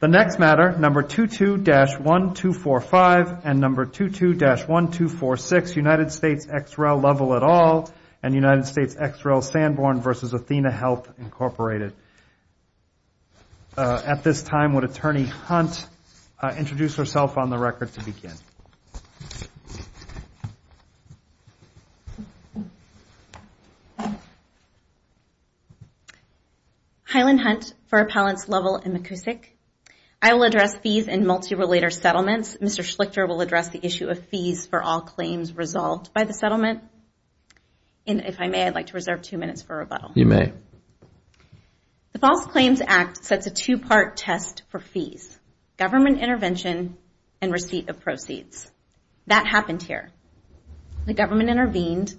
The next matter, number 22-1245 and number 22-1246, United States, ex rel. Lovell et al. and United States, ex rel. Sanborn v. Athenahealth, Incorporated. At this time, would Attorney Hunt introduce herself on the record to begin? Highland Hunt for Appellants Lovell and McKusick. I will address fees in multi-relater settlements. Mr. Schlichter will address the issue of fees for all claims resolved by the settlement. And if I may, I'd like to reserve two minutes for rebuttal. You may. The False Claims Act sets a two-part test for fees, government intervention and receipt of proceeds. That happened here. The government intervened,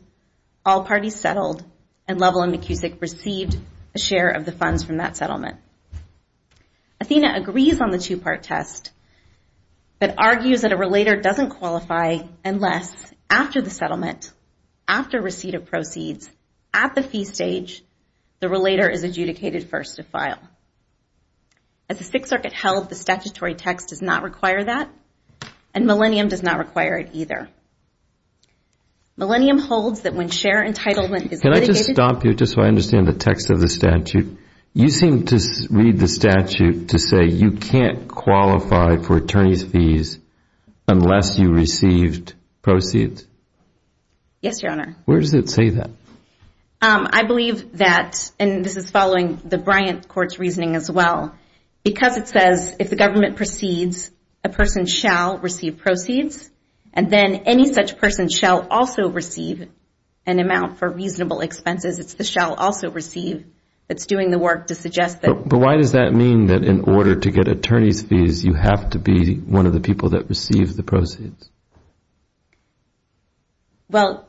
all parties settled, and Lovell and McKusick received a share of the funds from that settlement. Athenahealth agrees on the two-part test, After receipt of proceeds, at the fee stage, the relater is adjudicated first to file. As the Sixth Circuit held, the statutory text does not require that, and Millennium does not require it either. Millennium holds that when share entitlement is litigated Can I just stop you just so I understand the text of the statute? You seem to read the statute to say you can't qualify for attorney's fees unless you received proceeds? Yes, Your Honor. Where does it say that? I believe that, and this is following the Bryant Court's reasoning as well, because it says if the government proceeds, a person shall receive proceeds, and then any such person shall also receive an amount for reasonable expenses. It's the shall also receive that's doing the work to suggest that. But why does that mean that in order to get attorney's fees, you have to be one of the people that receives the proceeds? Well,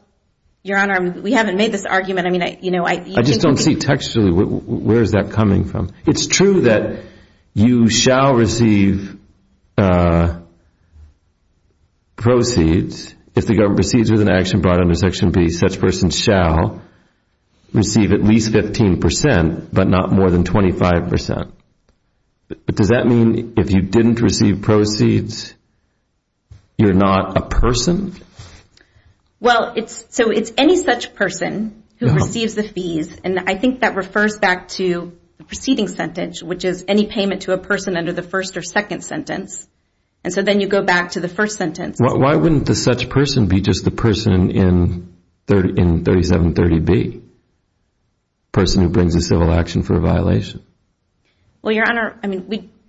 Your Honor, we haven't made this argument. I just don't see textually where is that coming from. It's true that you shall receive proceeds if the government proceeds with an action brought under Section B. Such person shall receive at least 15 percent, but not more than 25 percent. But does that mean if you didn't receive proceeds, you're not a person? Well, so it's any such person who receives the fees, and I think that refers back to the preceding sentence, which is any payment to a person under the first or second sentence, and so then you go back to the first sentence. Why wouldn't the such person be just the person in 3730B, person who brings a civil action for a violation? Well, Your Honor,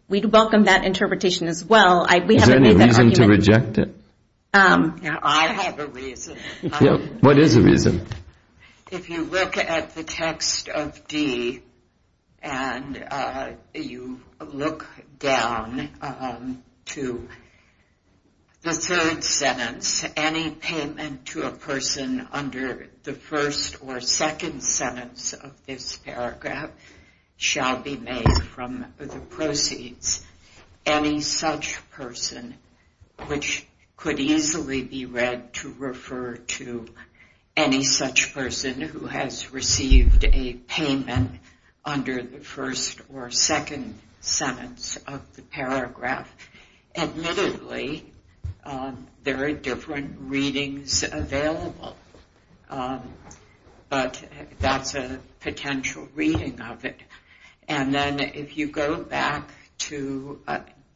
we'd welcome that interpretation as well. Is there any reason to reject it? I have a reason. What is the reason? If you look at the text of D, and you look down to the third sentence, it says any payment to a person under the first or second sentence of this paragraph shall be made from the proceeds. Any such person, which could easily be read to refer to any such person who has received a payment under the first or second sentence of the paragraph, admittedly, there are different readings available, but that's a potential reading of it. And then if you go back to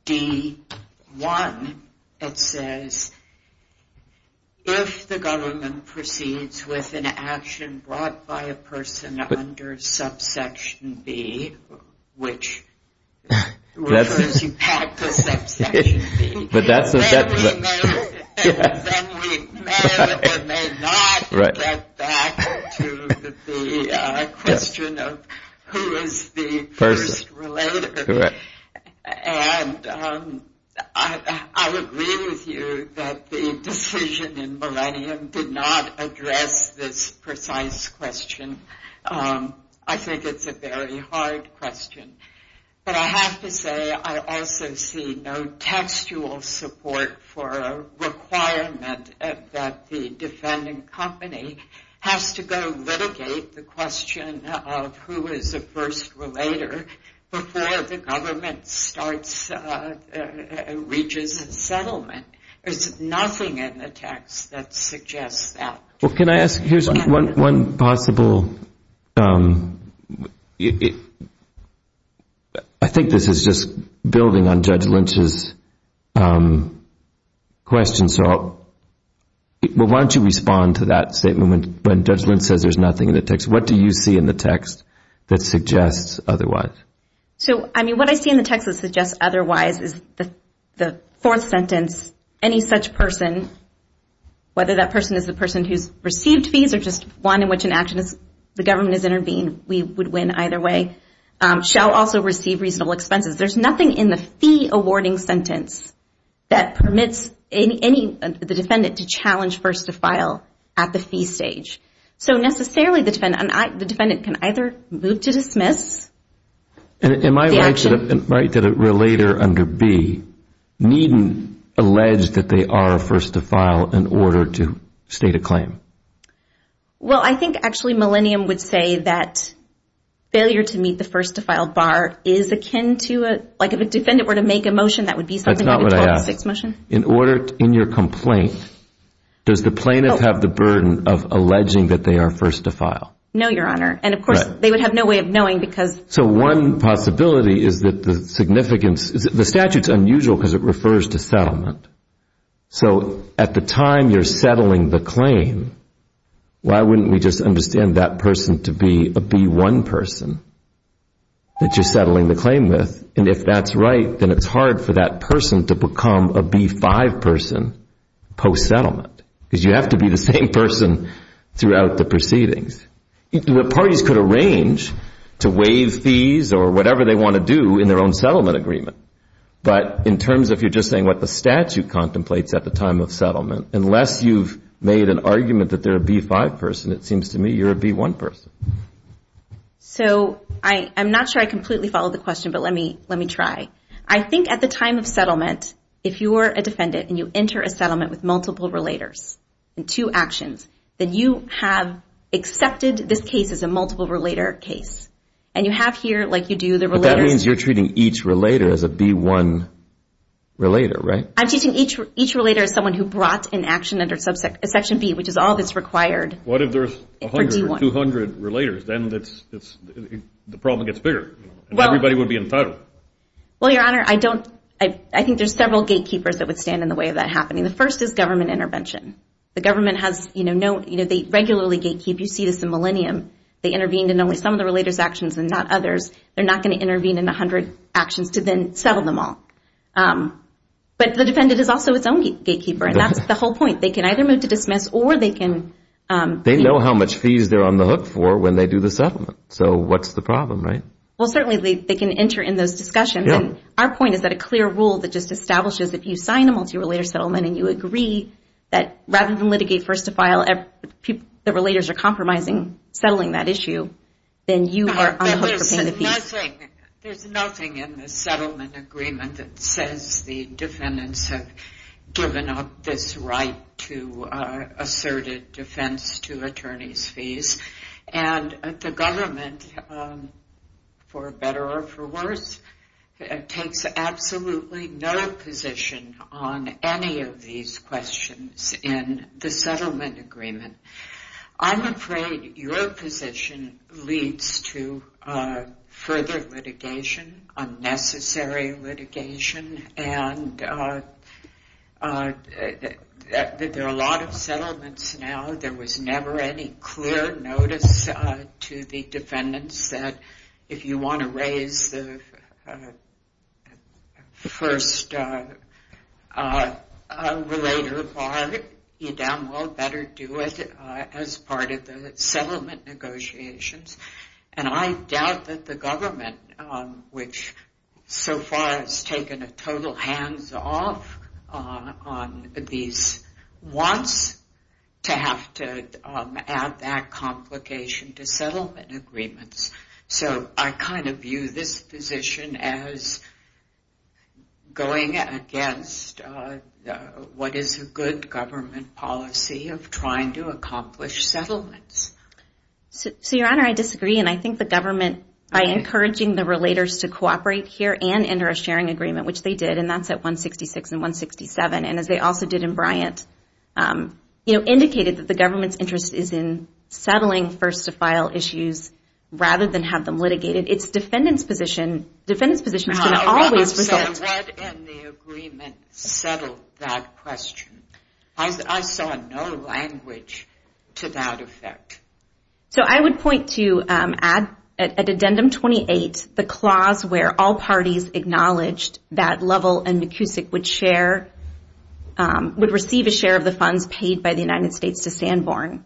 D1, it says, if the government proceeds with an action brought by a person under subsection B, which refers you back to subsection B, then we may or may not get back to the question of who is the first relator. And I agree with you that the decision in Millennium did not address this precise question. I think it's a very hard question. But I have to say I also see no textual support for a requirement that the defending company has to go litigate the question of who is the first relator before the government reaches a settlement. There's nothing in the text that suggests that. Well, can I ask, here's one possible, I think this is just building on Judge Lynch's question, so why don't you respond to that statement when Judge Lynch says there's nothing in the text. What do you see in the text that suggests otherwise? So, I mean, what I see in the text that suggests otherwise is the fourth sentence, any such person, whether that person is the person who's received fees or just one in which the government has intervened, we would win either way, shall also receive reasonable expenses. There's nothing in the fee awarding sentence that permits the defendant to challenge first to file at the fee stage. So necessarily the defendant can either move to dismiss. Am I right that a relator under B needn't allege that they are a first to file in order to state a claim? Well, I think actually Millennium would say that failure to meet the first to file bar is akin to a, like if a defendant were to make a motion that would be something like a 12-6 motion. In your complaint, does the plaintiff have the burden of alleging that they are first to file? No, Your Honor. And, of course, they would have no way of knowing because. So one possibility is that the significance. The statute's unusual because it refers to settlement. So at the time you're settling the claim, why wouldn't we just understand that person to be a B-1 person that you're settling the claim with? And if that's right, then it's hard for that person to become a B-5 person post-settlement because you have to be the same person throughout the proceedings. The parties could arrange to waive fees or whatever they want to do in their own settlement agreement. But in terms of you're just saying what the statute contemplates at the time of settlement, unless you've made an argument that they're a B-5 person, it seems to me you're a B-1 person. So I'm not sure I completely followed the question, but let me try. I think at the time of settlement, if you are a defendant and you enter a settlement with multiple relators in two actions, then you have accepted this case as a multiple-relator case. And you have here, like you do, the relators. But that means you're treating each relator as a B-1 relator, right? I'm treating each relator as someone who brought an action under Section B, which is all that's required. What if there's 100 or 200 relators? Then the problem gets bigger and everybody would be entitled. Well, Your Honor, I think there's several gatekeepers that would stand in the way of that happening. The first is government intervention. The government has no—they regularly gatekeep. You see this in Millennium. They intervened in only some of the relators' actions and not others. They're not going to intervene in 100 actions to then settle them all. But the defendant is also its own gatekeeper, and that's the whole point. They can either move to dismiss or they can— They know how much fees they're on the hook for when they do the settlement. So what's the problem, right? Well, certainly they can enter in those discussions. And our point is that a clear rule that just establishes that if you sign a multi-relator settlement and you agree that rather than litigate first to file, the relators are compromising settling that issue, then you are on the hook for paying the fees. There's nothing in the settlement agreement that says the defendants have given up this right And the government, for better or for worse, takes absolutely no position on any of these questions in the settlement agreement. I'm afraid your position leads to further litigation, unnecessary litigation, and there are a lot of settlements now. There was never any clear notice to the defendants that if you want to raise the first relator bar, you damn well better do it as part of the settlement negotiations. And I doubt that the government, which so far has taken a total hands-off on these, wants to have to add that complication to settlement agreements. So I kind of view this position as going against what is a good government policy of trying to accomplish settlements. So, Your Honor, I disagree, and I think the government, by encouraging the relators to cooperate here and enter a sharing agreement, which they did, and that's at 166 and 167, and as they also did in Bryant, indicated that the government's interest is in settling first-to-file issues rather than have them litigated. It's defendants' position. Defendants' position is going to always result... I said what in the agreement settled that question? I saw no language to that effect. So I would point to, at Addendum 28, the clause where all parties acknowledged that Lovell and McKusick would share, would receive a share of the funds paid by the United States to Sanborn,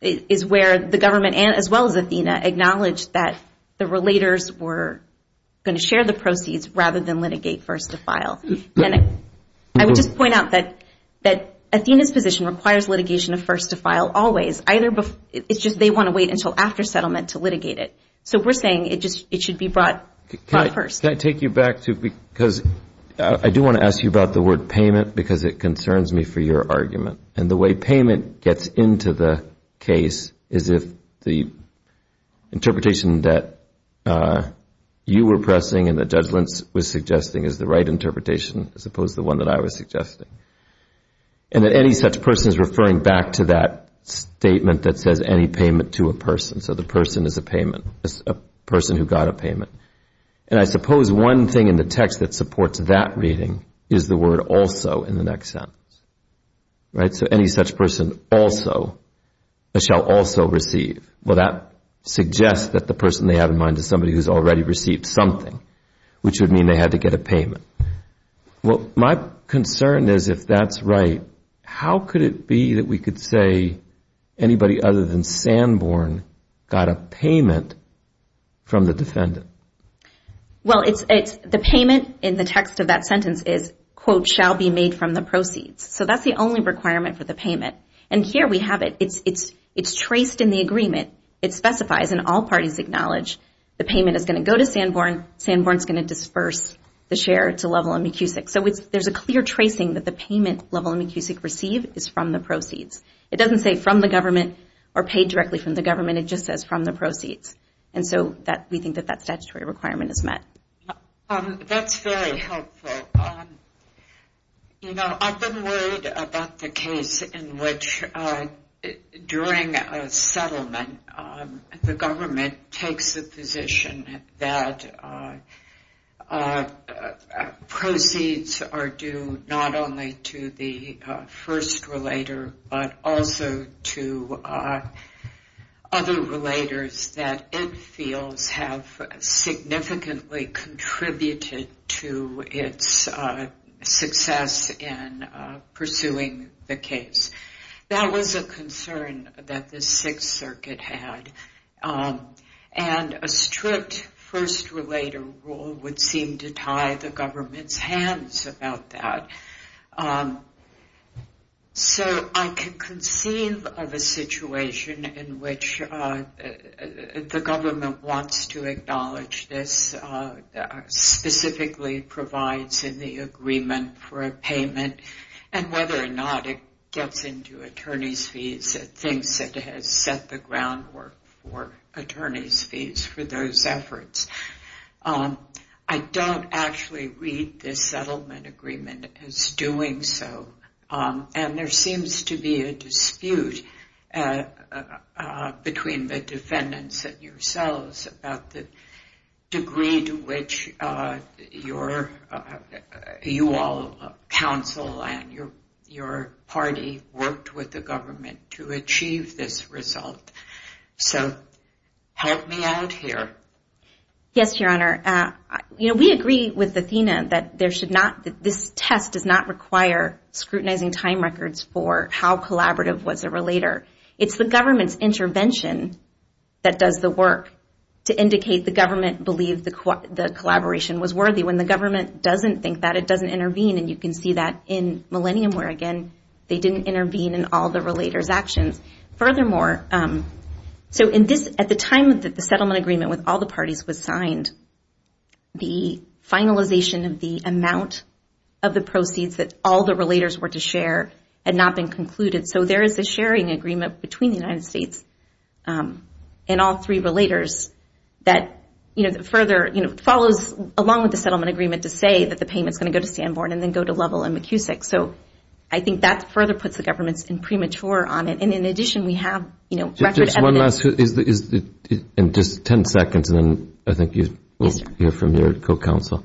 is where the government, as well as Athena, acknowledged that the relators were going to share the proceeds rather than litigate first-to-file. I would just point out that Athena's position requires litigation of first-to-file always. It's just they want to wait until after settlement to litigate it. So we're saying it should be brought first. Can I take you back to... because I do want to ask you about the word payment because it concerns me for your argument, and the way payment gets into the case is if the interpretation that you were pressing and the judgements was suggesting is the right interpretation as opposed to the one that I was suggesting, and that any such person is referring back to that statement that says any payment to a person. So the person is a person who got a payment. And I suppose one thing in the text that supports that reading is the word also in the next sentence. So any such person also shall also receive. Well, that suggests that the person they have in mind is somebody who's already received something, which would mean they had to get a payment. Well, my concern is if that's right, how could it be that we could say anybody other than Sanborn got a payment from the defendant? Well, the payment in the text of that sentence is, quote, shall be made from the proceeds. So that's the only requirement for the payment. And here we have it. It's traced in the agreement. It specifies, and all parties acknowledge, the payment is going to go to Sanborn. Sanborn is going to disperse the share to Lovell and McKusick. So there's a clear tracing that the payment Lovell and McKusick receive is from the proceeds. It doesn't say from the government or paid directly from the government. It just says from the proceeds. And so we think that that statutory requirement is met. That's very helpful. You know, I've been worried about the case in which, during a settlement, the government takes a position that proceeds are due not only to the first relator, but also to other relators that it feels have significantly contributed to its success in pursuing the case. That was a concern that the Sixth Circuit had. And a strict first relator rule would seem to tie the government's hands about that. So I can conceive of a situation in which the government wants to acknowledge this, specifically provides in the agreement for a payment, and whether or not it gets into attorney's fees, it thinks it has set the groundwork for attorney's fees for those efforts. I don't actually read this settlement agreement as doing so. And there seems to be a dispute between the defendants and yourselves about the degree to which you all, counsel and your party, worked with the government to achieve this result. So help me out here. Yes, Your Honor. You know, we agree with Athena that this test does not require scrutinizing time records for how collaborative was a relator. It's the government's intervention that does the work to indicate the government believed the collaboration was worthy. When the government doesn't think that, it doesn't intervene. And you can see that in Millennium where, again, they didn't intervene in all the relator's actions. Furthermore, so at the time that the settlement agreement with all the parties was signed, the finalization of the amount of the proceeds that all the relators were to share had not been concluded. So there is a sharing agreement between the United States and all three relators that further follows along with the settlement agreement to say that the payment is going to go to Sanborn and then go to Lovell and McKusick. So I think that further puts the government in premature on it. And in addition, we have record evidence. Just one last, in just ten seconds, and then I think you will hear from your co-counsel.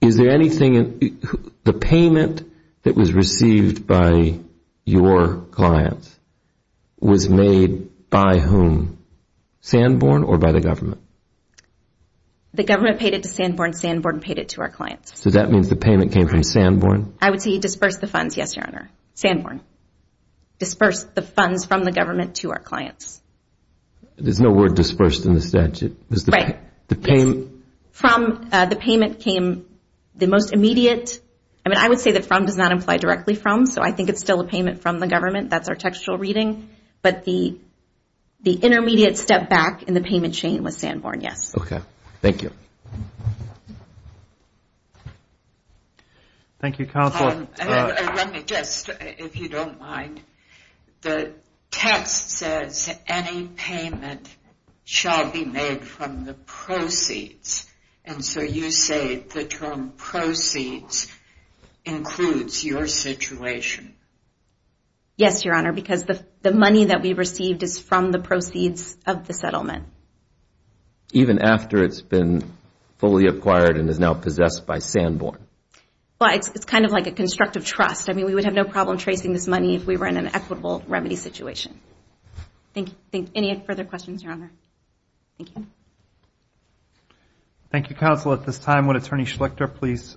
Is there anything in the payment that was received by your clients was made by whom? Sanborn or by the government? The government paid it to Sanborn. Sanborn paid it to our clients. So that means the payment came from Sanborn? I would say he disbursed the funds, yes, Your Honor. Sanborn disbursed the funds from the government to our clients. There's no word disbursed in the statute. From the payment came the most immediate. I mean, I would say that from does not imply directly from, so I think it's still a payment from the government. That's our textual reading. But the intermediate step back in the payment chain was Sanborn, yes. Okay. Thank you. Thank you, counsel. Let me just, if you don't mind, the text says any payment shall be made from the proceeds. And so you say the term proceeds includes your situation. Yes, Your Honor, because the money that we received is from the proceeds of the settlement. Even after it's been fully acquired and is now possessed by Sanborn? Well, it's kind of like a constructive trust. I mean, we would have no problem tracing this money if we were in an equitable remedy situation. Thank you. Any further questions, Your Honor? Thank you. Thank you, counsel. At this time, would Attorney Schlichter please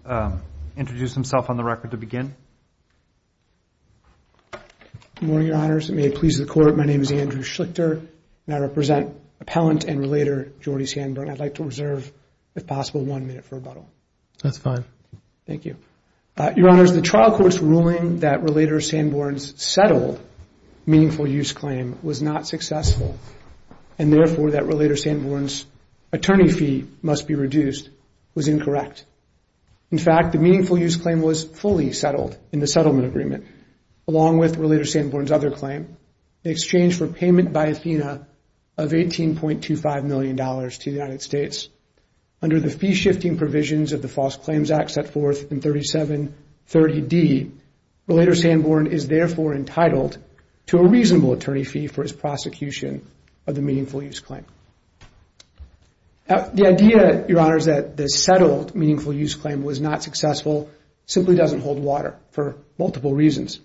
introduce himself on the record to begin? Good morning, Your Honors. May it please the Court, my name is Andrew Schlichter, and I represent appellant and relator Jordy Sanborn. I'd like to reserve, if possible, one minute for rebuttal. That's fine. Thank you. Your Honors, the trial court's ruling that relator Sanborn's settled meaningful use claim was not successful and, therefore, that relator Sanborn's attorney fee must be reduced was incorrect. In fact, the meaningful use claim was fully settled in the settlement agreement, along with relator Sanborn's other claim, the exchange for payment by Athena of $18.25 million to the United States. Under the fee-shifting provisions of the False Claims Act set forth in 3730D, relator Sanborn is, therefore, entitled to a reasonable attorney fee for his prosecution of the meaningful use claim. The idea, Your Honors, that the settled meaningful use claim was not successful simply doesn't hold water for multiple reasons.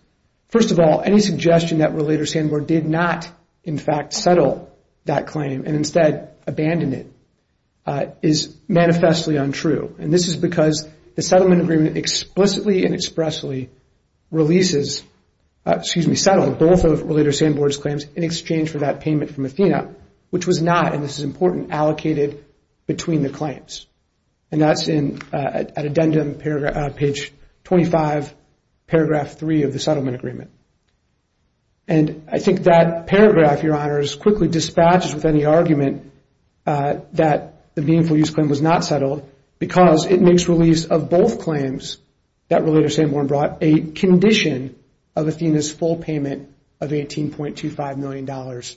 First of all, any suggestion that relator Sanborn did not, in fact, settle that claim and instead abandoned it is manifestly untrue. And this is because the settlement agreement explicitly and expressly releases, excuse me, settled both of relator Sanborn's claims in exchange for that payment from Athena, which was not, and this is important, allocated between the claims. And that's at addendum, page 25, paragraph 3 of the settlement agreement. And I think that paragraph, Your Honors, quickly dispatches with any argument that the meaningful use claim was not settled because it makes release of both claims that relator Sanborn brought a condition of Athena's full payment of $18.25 million to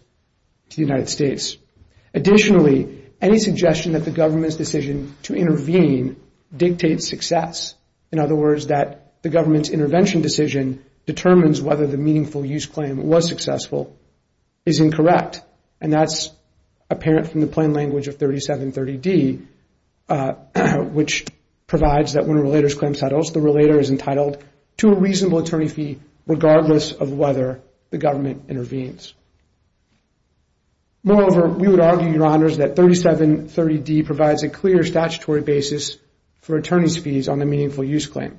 the United States. Additionally, any suggestion that the government's decision to intervene dictates success. In other words, that the government's intervention decision determines whether the meaningful use claim was successful is incorrect. And that's apparent from the plain language of 3730D, which provides that when a relator's claim settles, the relator is entitled to a reasonable attorney fee regardless of whether the government intervenes. Moreover, we would argue, Your Honors, that 3730D provides a clear statutory basis for attorney's fees on the meaningful use claim.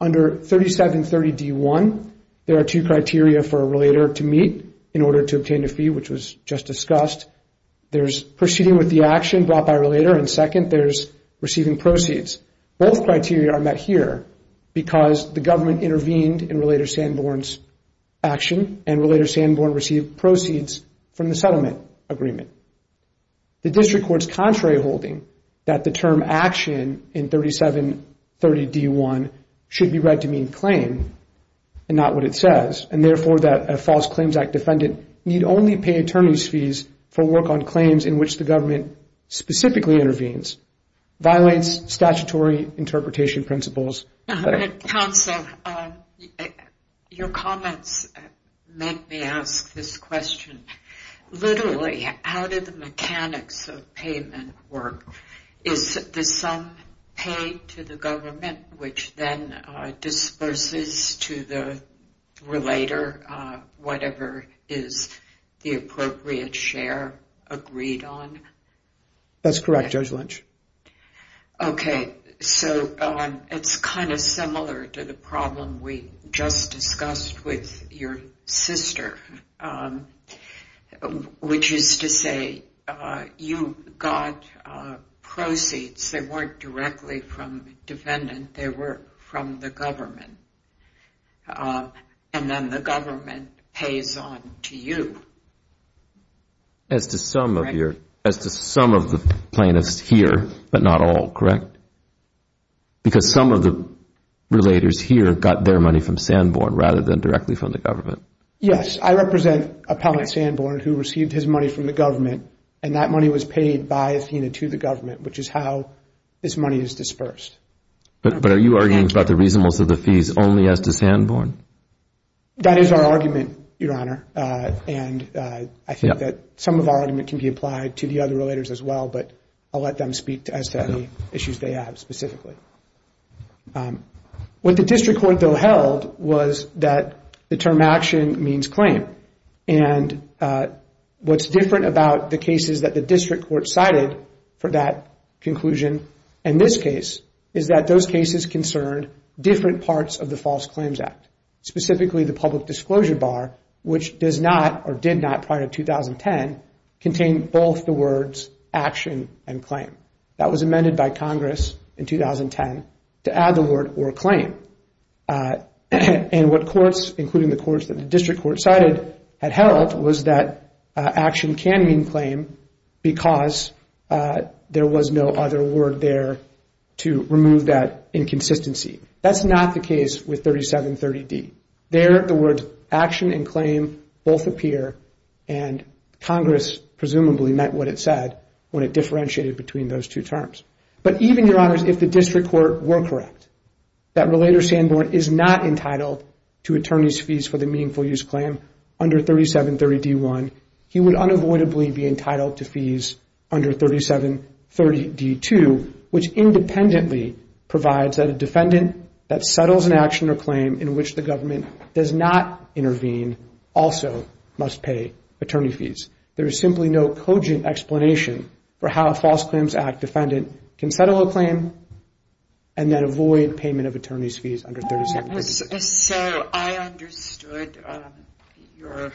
Under 3730D1, there are two criteria for a relator to meet in order to obtain a fee, which was just discussed. There's proceeding with the action brought by a relator, and second, there's receiving proceeds. Both criteria are met here because the government intervened in relator Sanborn's action and relator Sanborn received proceeds from the settlement agreement. The district court's contrary holding that the term action in 3730D1 should be read to mean claim and not what it says, and therefore that a false claims act defendant need only pay attorney's fees for work on claims in which the government specifically intervenes violates statutory interpretation principles. Counsel, your comments make me ask this question. Literally, how did the mechanics of payment work? Is the sum paid to the government, which then disperses to the relator, whatever is the appropriate share agreed on? That's correct, Judge Lynch. Okay, so it's kind of similar to the problem we just discussed with your sister, which is to say you got proceeds. They weren't directly from defendant. They were from the government, and then the government pays on to you. As to some of the plaintiffs here, but not all, correct? Because some of the relators here got their money from Sanborn rather than directly from the government. Yes, I represent appellant Sanborn who received his money from the government, and that money was paid by Athena to the government, which is how this money is dispersed. But are you arguing about the reasonableness of the fees only as to Sanborn? That is our argument, Your Honor. I think that some of our argument can be applied to the other relators as well, but I'll let them speak as to any issues they have specifically. What the district court, though, held was that the term action means claim. What's different about the cases that the district court cited for that conclusion in this case is that those cases concerned different parts of the False Claims Act, specifically the public disclosure bar, which does not or did not prior to 2010, contain both the words action and claim. That was amended by Congress in 2010 to add the word or claim. What courts, including the courts that the district court cited, had held was that action can mean claim because there was no other word there to remove that inconsistency. That's not the case with 3730D. There, the words action and claim both appear, and Congress presumably meant what it said when it differentiated between those two terms. But even, Your Honors, if the district court were correct, that Relator Sanborn is not entitled to attorney's fees for the meaningful use claim under 3730D1, he would unavoidably be entitled to fees under 3730D2, which independently provides that a defendant that settles an action or claim in which the government does not intervene also must pay attorney fees. There is simply no cogent explanation for how a False Claims Act defendant can settle a claim and then avoid payment of attorney's fees under 3730D2. So I understood your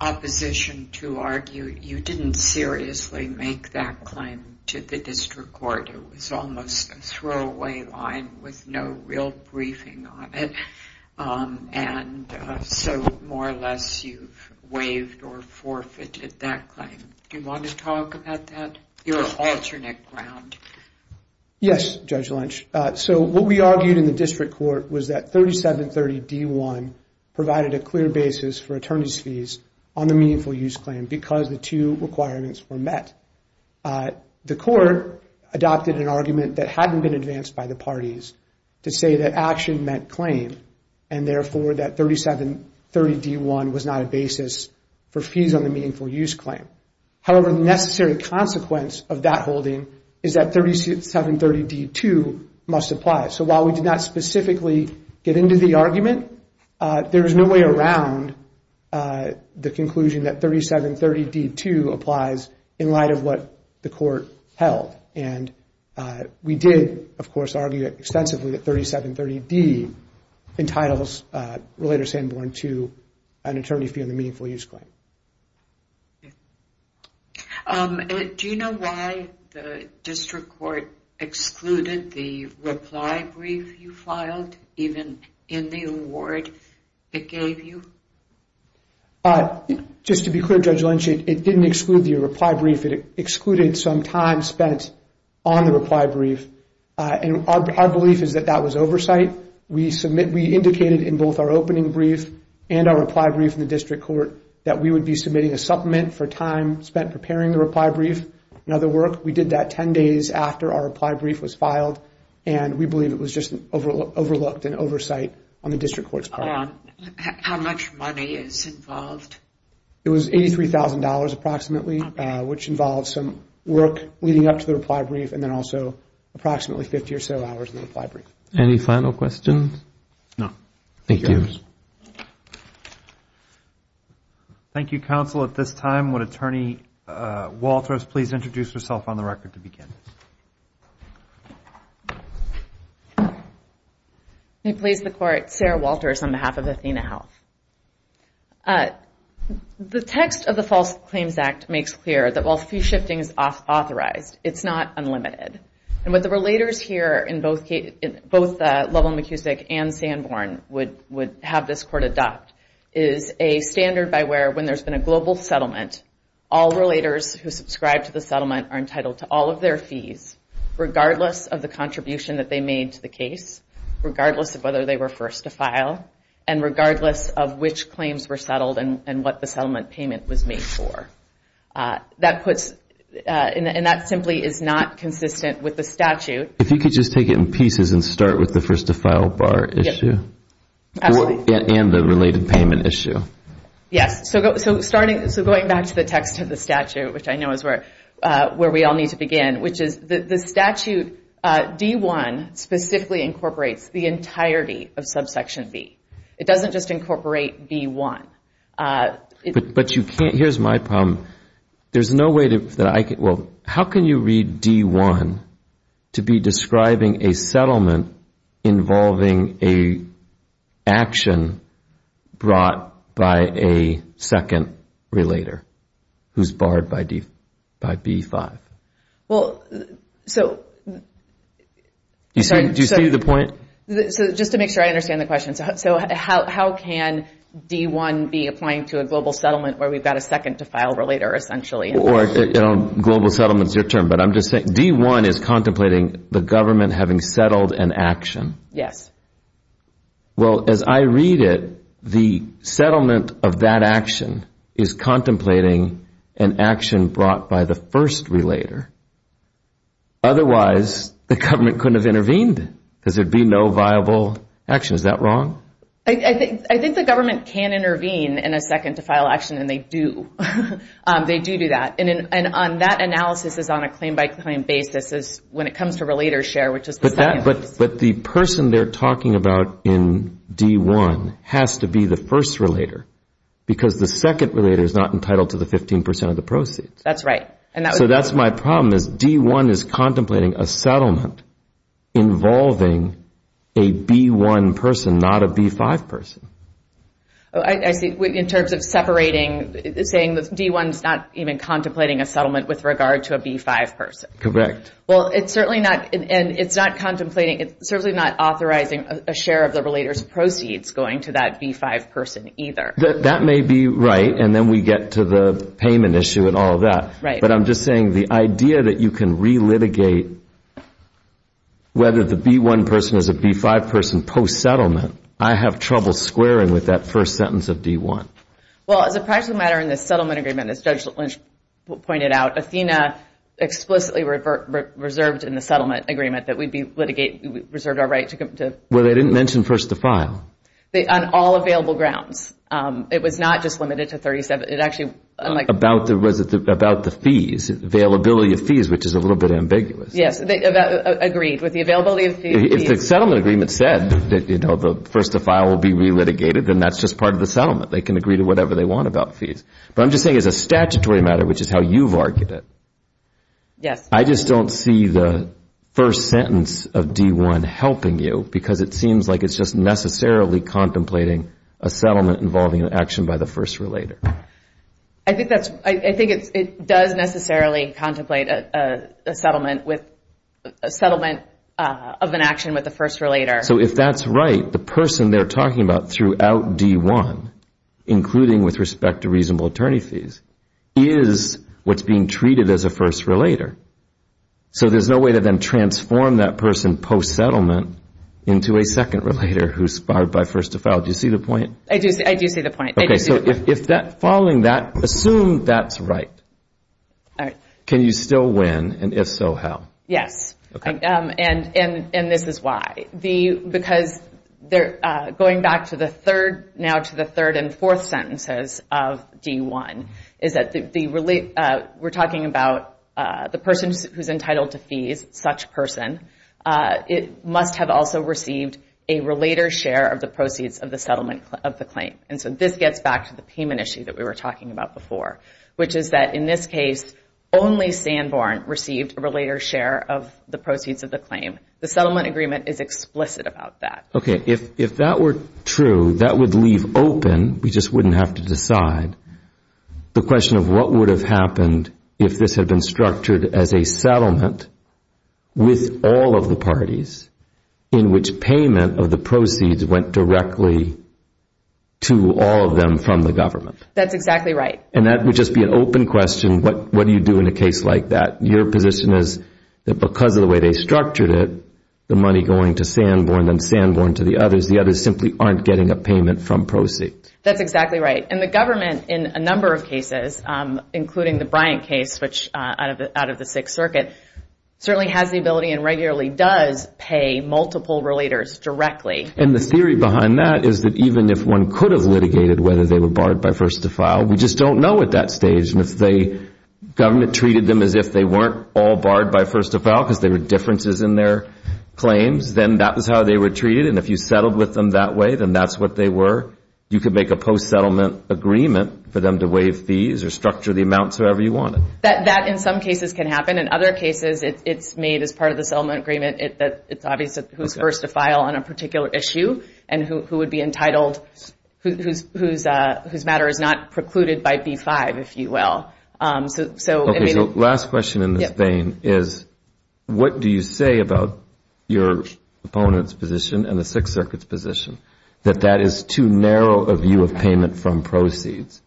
opposition to argue you didn't seriously make that claim to the district court. It was almost a throwaway line with no real briefing on it. And so more or less you've waived or forfeited that claim. Do you want to talk about that, your alternate ground? Yes, Judge Lynch. So what we argued in the district court was that 3730D1 provided a clear basis for attorney's fees on the meaningful use claim because the two requirements were met. The court adopted an argument that hadn't been advanced by the parties to say that action meant claim, and therefore that 3730D1 was not a basis for fees on the meaningful use claim. However, the necessary consequence of that holding is that 3730D2 must apply. So while we did not specifically get into the argument, there is no way around the conclusion that 3730D2 applies in light of what the court held. And we did, of course, argue extensively that 3730D entitles Relator Sanborn to an attorney fee on the meaningful use claim. Do you know why the district court excluded the reply brief you filed even in the award it gave you? Just to be clear, Judge Lynch, it didn't exclude the reply brief. It excluded some time spent on the reply brief. And our belief is that that was oversight. We indicated in both our opening brief and our reply brief in the district court that we would be submitting a supplement for time spent preparing the reply brief and other work. We did that 10 days after our reply brief was filed, and we believe it was just overlooked in oversight on the district court's part. How much money is involved? It was $83,000 approximately, which involves some work leading up to the reply brief and then also approximately 50 or so hours in the reply brief. Any final questions? No. Thank you. Thank you, counsel. At this time, would Attorney Walters please introduce herself on the record to begin? May it please the Court, Sarah Walters on behalf of Athena Health. The text of the False Claims Act makes clear that while fee shifting is authorized, it's not unlimited. And what the relators here in both Lublin-McCusick and Sanborn would have this court adopt is a standard by where when there's been a global settlement, all relators who subscribe to the settlement are entitled to all of their fees, regardless of the contribution that they made to the case, regardless of whether they were first to file, and regardless of which claims were settled and what the settlement payment was made for. And that simply is not consistent with the statute. If you could just take it in pieces and start with the first to file bar issue. Absolutely. And the related payment issue. Yes. So going back to the text of the statute, which I know is where we all need to begin, which is the statute D-1 specifically incorporates the entirety of subsection B. It doesn't just incorporate D-1. But you can't. Here's my problem. There's no way that I can. Well, how can you read D-1 to be describing a settlement involving a action brought by a second relator who's barred by B-5? Well, so. Do you see the point? So just to make sure I understand the question. So how can D-1 be applying to a global settlement where we've got a second to file relator essentially? Global settlement is your term. But I'm just saying D-1 is contemplating the government having settled an action. Yes. Well, as I read it, the settlement of that action is contemplating an action brought by the first relator. Otherwise, the government couldn't have intervened because there would be no viable action. Is that wrong? I think the government can intervene in a second to file action, and they do. They do do that. And that analysis is on a claim-by-claim basis when it comes to relator share, which is the second. But the person they're talking about in D-1 has to be the first relator, because the second relator is not entitled to the 15 percent of the proceeds. That's right. So that's my problem is D-1 is contemplating a settlement involving a B-1 person, not a B-5 person. I see. In terms of separating, saying that D-1 is not even contemplating a settlement with regard to a B-5 person. Correct. Well, it's certainly not, and it's not contemplating, it's certainly not authorizing a share of the relator's proceeds going to that B-5 person either. That may be right, and then we get to the payment issue and all of that. Right. But I'm just saying the idea that you can relitigate whether the B-1 person is a B-5 person post-settlement, I have trouble squaring with that first sentence of D-1. Well, as a practical matter in the settlement agreement, as Judge Lynch pointed out, Athena explicitly reserved in the settlement agreement that we'd be litigating, reserved our right to... Well, they didn't mention first to file. On all available grounds. It was not just limited to 37... About the fees, availability of fees, which is a little bit ambiguous. Yes, agreed with the availability of fees. If the settlement agreement said that, you know, the first to file will be relitigated, then that's just part of the settlement. They can agree to whatever they want about fees. But I'm just saying as a statutory matter, which is how you've argued it. Yes. I just don't see the first sentence of D-1 helping you because it seems like it's just necessarily contemplating a settlement involving an action by the first relator. I think it does necessarily contemplate a settlement of an action with the first relator. So if that's right, the person they're talking about throughout D-1, including with respect to reasonable attorney fees, is what's being treated as a first relator. So there's no way to then transform that person post-settlement into a second relator who's fired by first to file. Do you see the point? I do see the point. Okay. So following that, assume that's right. All right. Can you still win? And if so, how? Yes. Okay. And this is why. Because going back now to the third and fourth sentences of D-1, is that we're talking about the person who's entitled to fees, such person. It must have also received a relator share of the proceeds of the settlement of the claim. And so this gets back to the payment issue that we were talking about before, which is that in this case, only Sanborn received a relator share of the proceeds of the claim. The settlement agreement is explicit about that. Okay. If that were true, that would leave open, we just wouldn't have to decide, the question of what would have happened if this had been structured as a settlement with all of the parties in which payment of the proceeds went directly to all of them from the government. That's exactly right. And that would just be an open question, what do you do in a case like that? Your position is that because of the way they structured it, the money going to Sanborn, then Sanborn to the others, the others simply aren't getting a payment from proceeds. That's exactly right. And the government in a number of cases, including the Bryant case, which out of the Sixth Circuit, certainly has the ability and regularly does pay multiple relators directly. And the theory behind that is that even if one could have litigated whether they were barred by first to file, we just don't know at that stage. And if the government treated them as if they weren't all barred by first to file, because there were differences in their claims, then that was how they were treated. And if you settled with them that way, then that's what they were. Or you could make a post-settlement agreement for them to waive fees or structure the amounts however you wanted. That in some cases can happen. In other cases, it's made as part of the settlement agreement that it's obvious who's first to file on a particular issue and who would be entitled, whose matter is not precluded by B-5, if you will. Okay, so last question in this vein is what do you say about your opponent's position and the Sixth Circuit's position that that is too narrow a view of payment from proceeds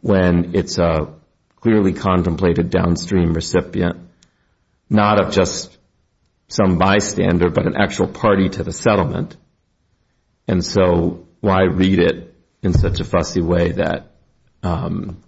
when it's a clearly contemplated downstream recipient, not of just some bystander, but an actual party to the settlement? And so why read it in such a fussy way that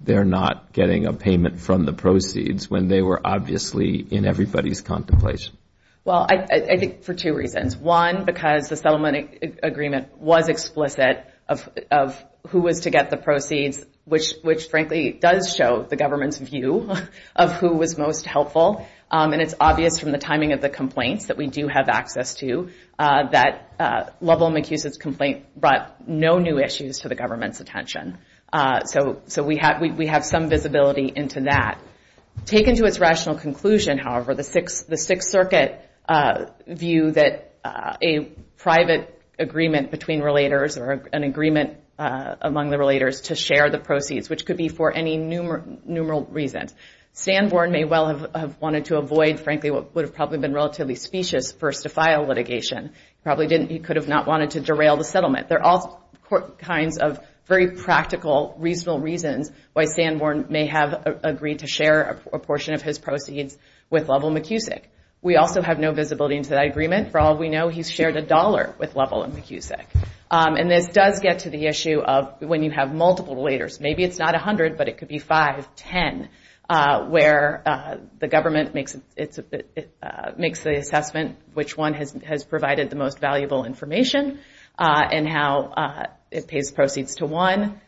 they're not getting a payment from the proceeds when they were obviously in everybody's contemplation? Well, I think for two reasons. One, because the settlement agreement was explicit of who was to get the proceeds, which frankly does show the government's view of who was most helpful. And it's obvious from the timing of the complaints that we do have access to that Lovell McHugh's complaint brought no new issues to the government's attention. So we have some visibility into that. Taken to its rational conclusion, however, the Sixth Circuit view that a private agreement between relators or an agreement among the relators to share the proceeds, which could be for any numeral reasons. Sanborn may well have wanted to avoid frankly what would have probably been relatively specious first-to-file litigation. There are all kinds of very practical, reasonable reasons why Sanborn may have agreed to share a portion of his proceeds with Lovell McHugh's. We also have no visibility into that agreement. For all we know, he's shared a dollar with Lovell McHugh's. And this does get to the issue of when you have multiple relators. Maybe it's not 100, but it could be 5, 10, where the government makes the assessment which one has provided the most valuable information and how it pays proceeds to one.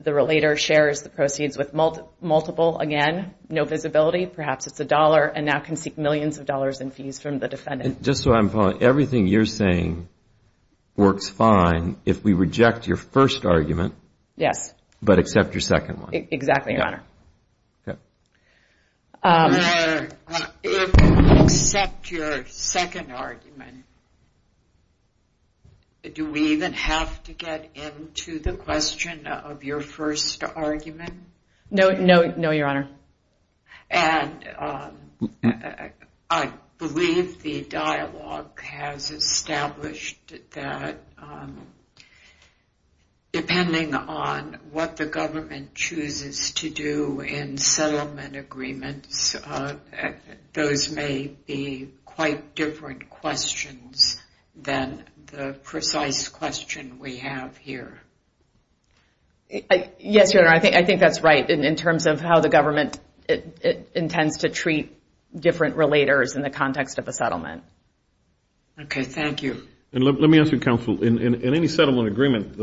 The relator shares the proceeds with multiple, again, no visibility. Perhaps it's a dollar and now can seek millions of dollars in fees from the defendant. Just so I'm following, everything you're saying works fine if we reject your first argument. Yes. But accept your second one. Exactly, Your Honor. Except your second argument, do we even have to get into the question of your first argument? No, Your Honor. And I believe the dialogue has established that depending on what the government chooses to do in settlement agreements, those may be quite different questions than the precise question we have here. Yes, Your Honor. I think that's right in terms of how the government intends to treat different relators in the context of a settlement. Okay. Thank you. And let me ask you, Counsel. In any settlement agreement,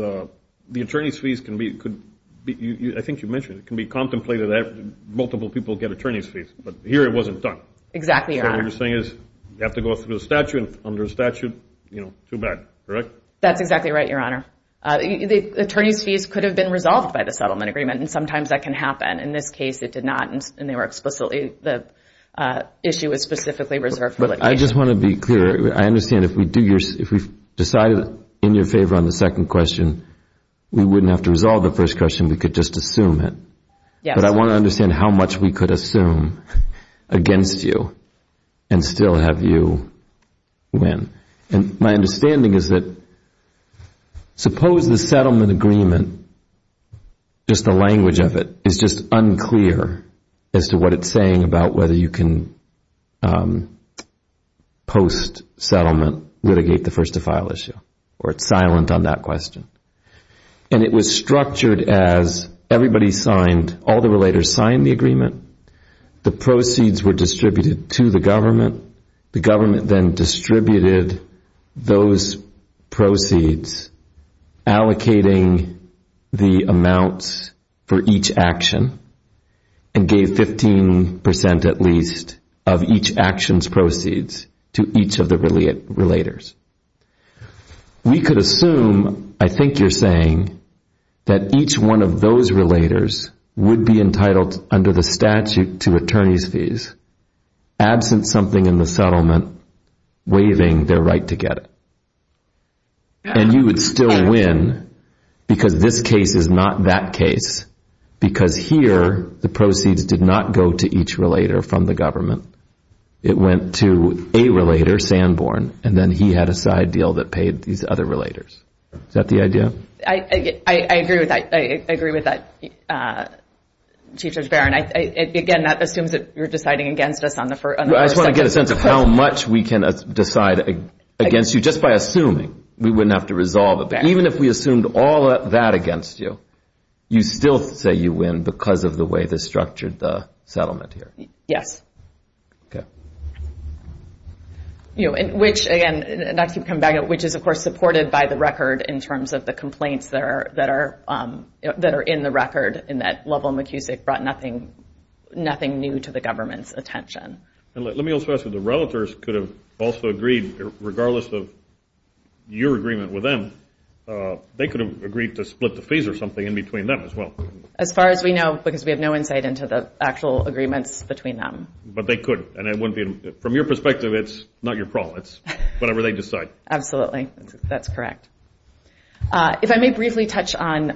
the attorney's fees can be, I think you mentioned it, can be contemplated that multiple people get attorney's fees, but here it wasn't done. Exactly, Your Honor. So what you're saying is you have to go through a statute, and under a statute, you know, too bad, correct? That's exactly right, Your Honor. The attorney's fees could have been resolved by the settlement agreement, and sometimes that can happen. In this case, it did not, and they were explicitly, the issue was specifically reserved for litigation. But I just want to be clear. I understand if we do your, if we've decided in your favor on the second question, we wouldn't have to resolve the first question. We could just assume it. Yes. But I want to understand how much we could assume against you and still have you win. And my understanding is that suppose the settlement agreement, just the language of it, is just unclear as to what it's saying about whether you can post-settlement litigate the first-to-file issue, or it's silent on that question. And it was structured as everybody signed, all the relators signed the agreement. The proceeds were distributed to the government. The government then distributed those proceeds allocating the amounts for each action and gave 15 percent at least of each action's proceeds to each of the relators. We could assume, I think you're saying, that each one of those relators would be entitled under the statute to attorney's fees absent something in the settlement waiving their right to get it. And you would still win because this case is not that case because here the proceeds did not go to each relator from the government. It went to a relator, Sanborn, and then he had a side deal that paid these other relators. Is that the idea? I agree with that. I agree with that, Chief Judge Barron. Again, that assumes that you're deciding against us on the first sentence. I just want to get a sense of how much we can decide against you just by assuming. We wouldn't have to resolve it. But even if we assumed all of that against you, you still say you win because of the way this structured the settlement here. Yes. Okay. Which, again, not to come back, which is, of course, supported by the record in terms of the complaints that are in the record in that Lovell and McKusick brought nothing new to the government's attention. Let me also ask if the relators could have also agreed, regardless of your agreement with them, they could have agreed to split the fees or something in between them as well. As far as we know, because we have no insight into the actual agreements between them. But they could. And from your perspective, it's not your problem. It's whatever they decide. Absolutely. That's correct. If I may briefly touch on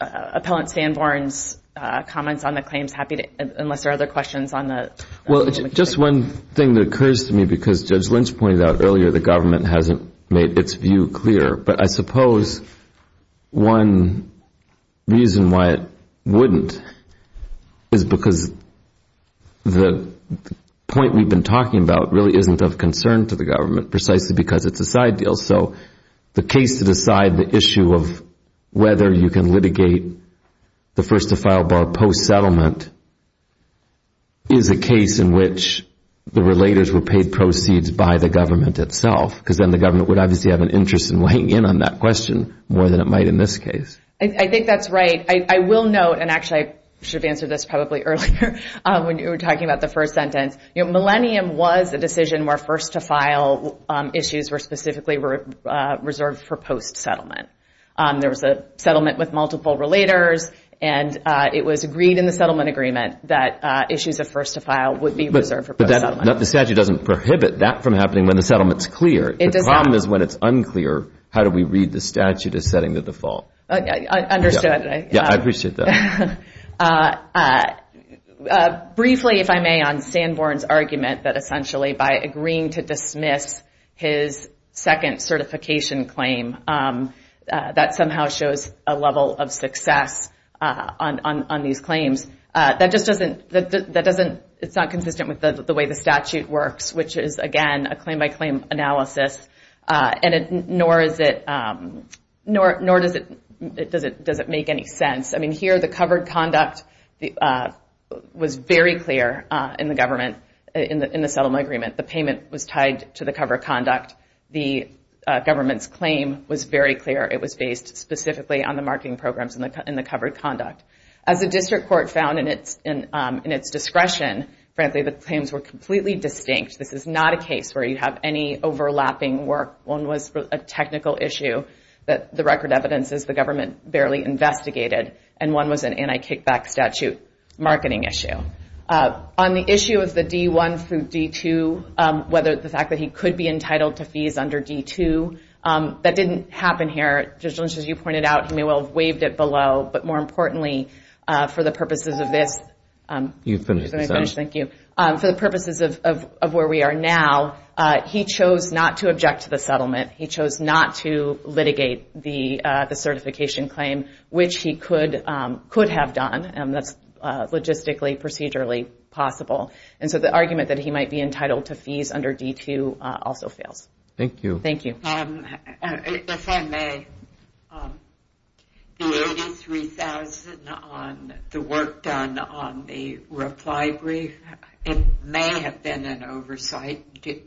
Appellant Sanborn's comments on the claims, unless there are other questions on the claim of McKusick. Well, just one thing that occurs to me, because Judge Lynch pointed out earlier the government hasn't made its view clear. But I suppose one reason why it wouldn't is because the point we've been talking about really isn't of concern to the government, precisely because it's a side deal. So the case to decide the issue of whether you can litigate the first-to-file bar post-settlement is a case in which the relators were paid proceeds by the government itself. Because then the government would obviously have an interest in weighing in on that question more than it might in this case. I think that's right. I will note, and actually I should have answered this probably earlier when you were talking about the first sentence. Millennium was a decision where first-to-file issues were specifically reserved for post-settlement. There was a settlement with multiple relators. And it was agreed in the settlement agreement that issues of first-to-file would be reserved for post-settlement. But the statute doesn't prohibit that from happening when the settlement is clear. The problem is when it's unclear, how do we read the statute as setting the default? Understood. I appreciate that. Briefly, if I may, on Sanborn's argument that essentially by agreeing to dismiss his second certification claim, that somehow shows a level of success on these claims. It's not consistent with the way the statute works, which is, again, a claim-by-claim analysis. Nor does it make any sense. I mean, here the covered conduct was very clear in the settlement agreement. The payment was tied to the covered conduct. The government's claim was very clear. It was based specifically on the marketing programs in the covered conduct. As the district court found in its discretion, frankly, the claims were completely distinct. This is not a case where you have any overlapping work. One was a technical issue that the record evidence is the government barely investigated. And one was an anti-kickback statute marketing issue. On the issue of the D-1 through D-2, whether the fact that he could be entitled to fees under D-2, that didn't happen here. Judge Lynch, as you pointed out, he may well have waived it below. But more importantly, for the purposes of this, for the purposes of where we are now, he chose not to object to the settlement. He chose not to litigate the certification claim, which he could have done. That's logistically, procedurally possible. And so the argument that he might be entitled to fees under D-2 also fails. Thank you. Thank you. If I may, the 83,000 on the work done on the reply brief, it may have been an oversight. Do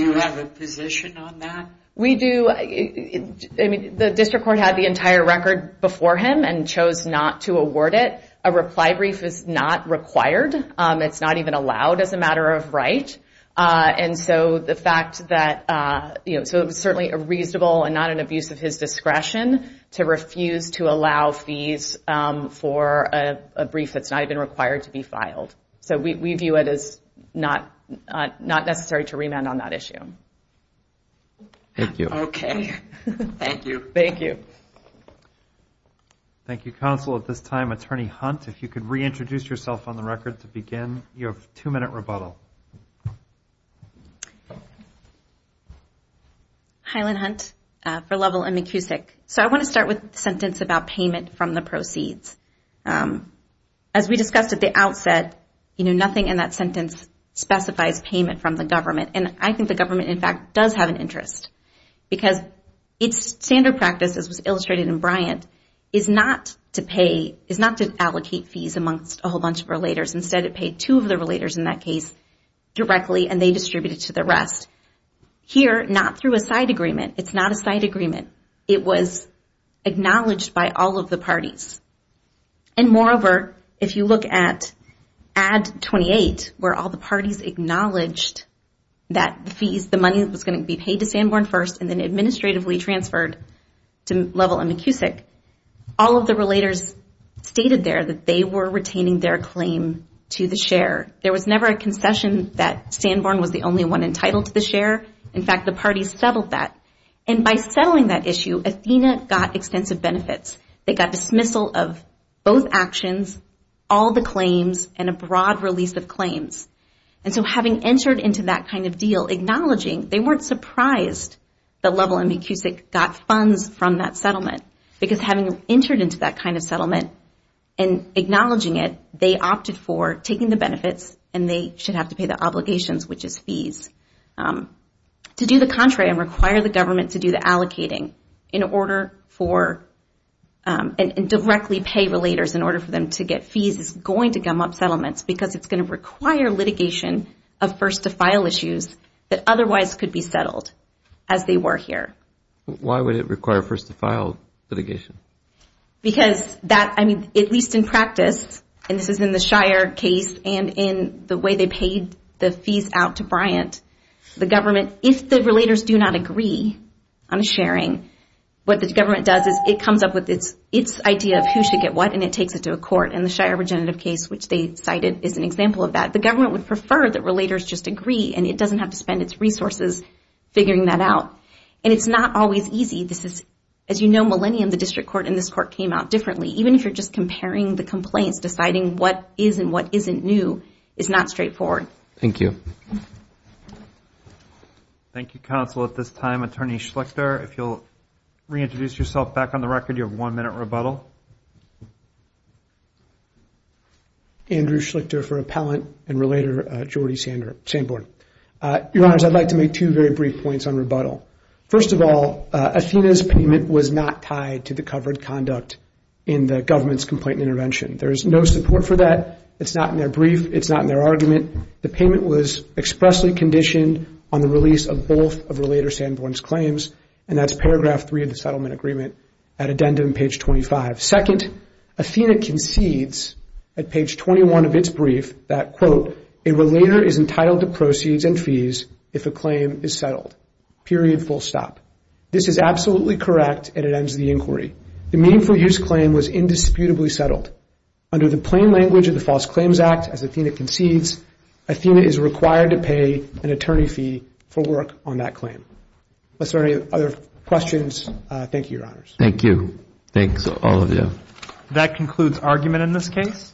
you have a position on that? We do. The district court had the entire record before him and chose not to award it. A reply brief is not required. It's not even allowed as a matter of right. And so the fact that it was certainly a reasonable and not an abuse of his discretion to refuse to allow fees for a brief that's not even required to be filed. So we view it as not necessary to remand on that issue. Thank you. Okay. Thank you. Thank you. Thank you, counsel. At this time, Attorney Hunt, if you could reintroduce yourself on the record to begin. You have a two-minute rebuttal. Hi, Lynn Hunt for Lovell and McKusick. So I want to start with the sentence about payment from the proceeds. As we discussed at the outset, nothing in that sentence specifies payment from the government. And I think the government, in fact, does have an interest because its standard practice, as was illustrated in Bryant, is not to allocate fees amongst a whole bunch of relators. Instead, it paid two of the relators in that case directly, and they distributed to the rest. Here, not through a side agreement. It's not a side agreement. It was acknowledged by all of the parties. And moreover, if you look at Ad 28, where all the parties acknowledged that the fees, the money that was going to be paid to Sanborn first, and then administratively transferred to Lovell and McKusick, all of the relators stated there that they were retaining their claim to the share. There was never a concession that Sanborn was the only one entitled to the share. In fact, the parties settled that. And by settling that issue, Athena got extensive benefits. They got dismissal of both actions, all the claims, and a broad release of claims. And so having entered into that kind of deal, acknowledging, they weren't surprised that Lovell and McKusick got funds from that settlement. Because having entered into that kind of settlement and acknowledging it, they opted for taking the benefits and they should have to pay the obligations, which is fees. To do the contrary and require the government to do the allocating in order for and directly pay relators in order for them to get fees is going to gum up settlements because it's going to require litigation of first-to-file issues that otherwise could be settled as they were here. Why would it require first-to-file litigation? Because that, I mean, at least in practice, and this is in the Shire case and in the way they paid the fees out to Bryant, the government, if the relators do not agree on a sharing, what the government does is it comes up with its idea of who should get what and it takes it to a court. And the Shire Regenerative case, which they cited, is an example of that. The government would prefer that relators just agree and it doesn't have to spend its resources figuring that out. And it's not always easy. As you know, millennium, the district court and this court came out differently. Even if you're just comparing the complaints, deciding what is and what isn't new is not straightforward. Thank you. Thank you, Counsel. At this time, Attorney Schlichter, if you'll reintroduce yourself back on the record, you have one minute rebuttal. Andrew Schlichter for Appellant and Relator Jordy Sanborn. Your Honors, I'd like to make two very brief points on rebuttal. First of all, Athena's payment was not tied to the covered conduct in the government's complaint and intervention. There is no support for that. It's not in their brief. It's not in their argument. The payment was expressly conditioned on the release of both of Relator Sanborn's claims, and that's paragraph three of the settlement agreement at addendum page 25. Second, Athena concedes at page 21 of its brief that, quote, a Relator is entitled to proceeds and fees if a claim is settled, period, full stop. This is absolutely correct, and it ends the inquiry. The Meaningful Use claim was indisputably settled. Under the plain language of the False Claims Act, as Athena concedes, Athena is required to pay an attorney fee for work on that claim. Are there any other questions? Thank you, Your Honors. Thank you. Thanks, all of you. That concludes argument in this case.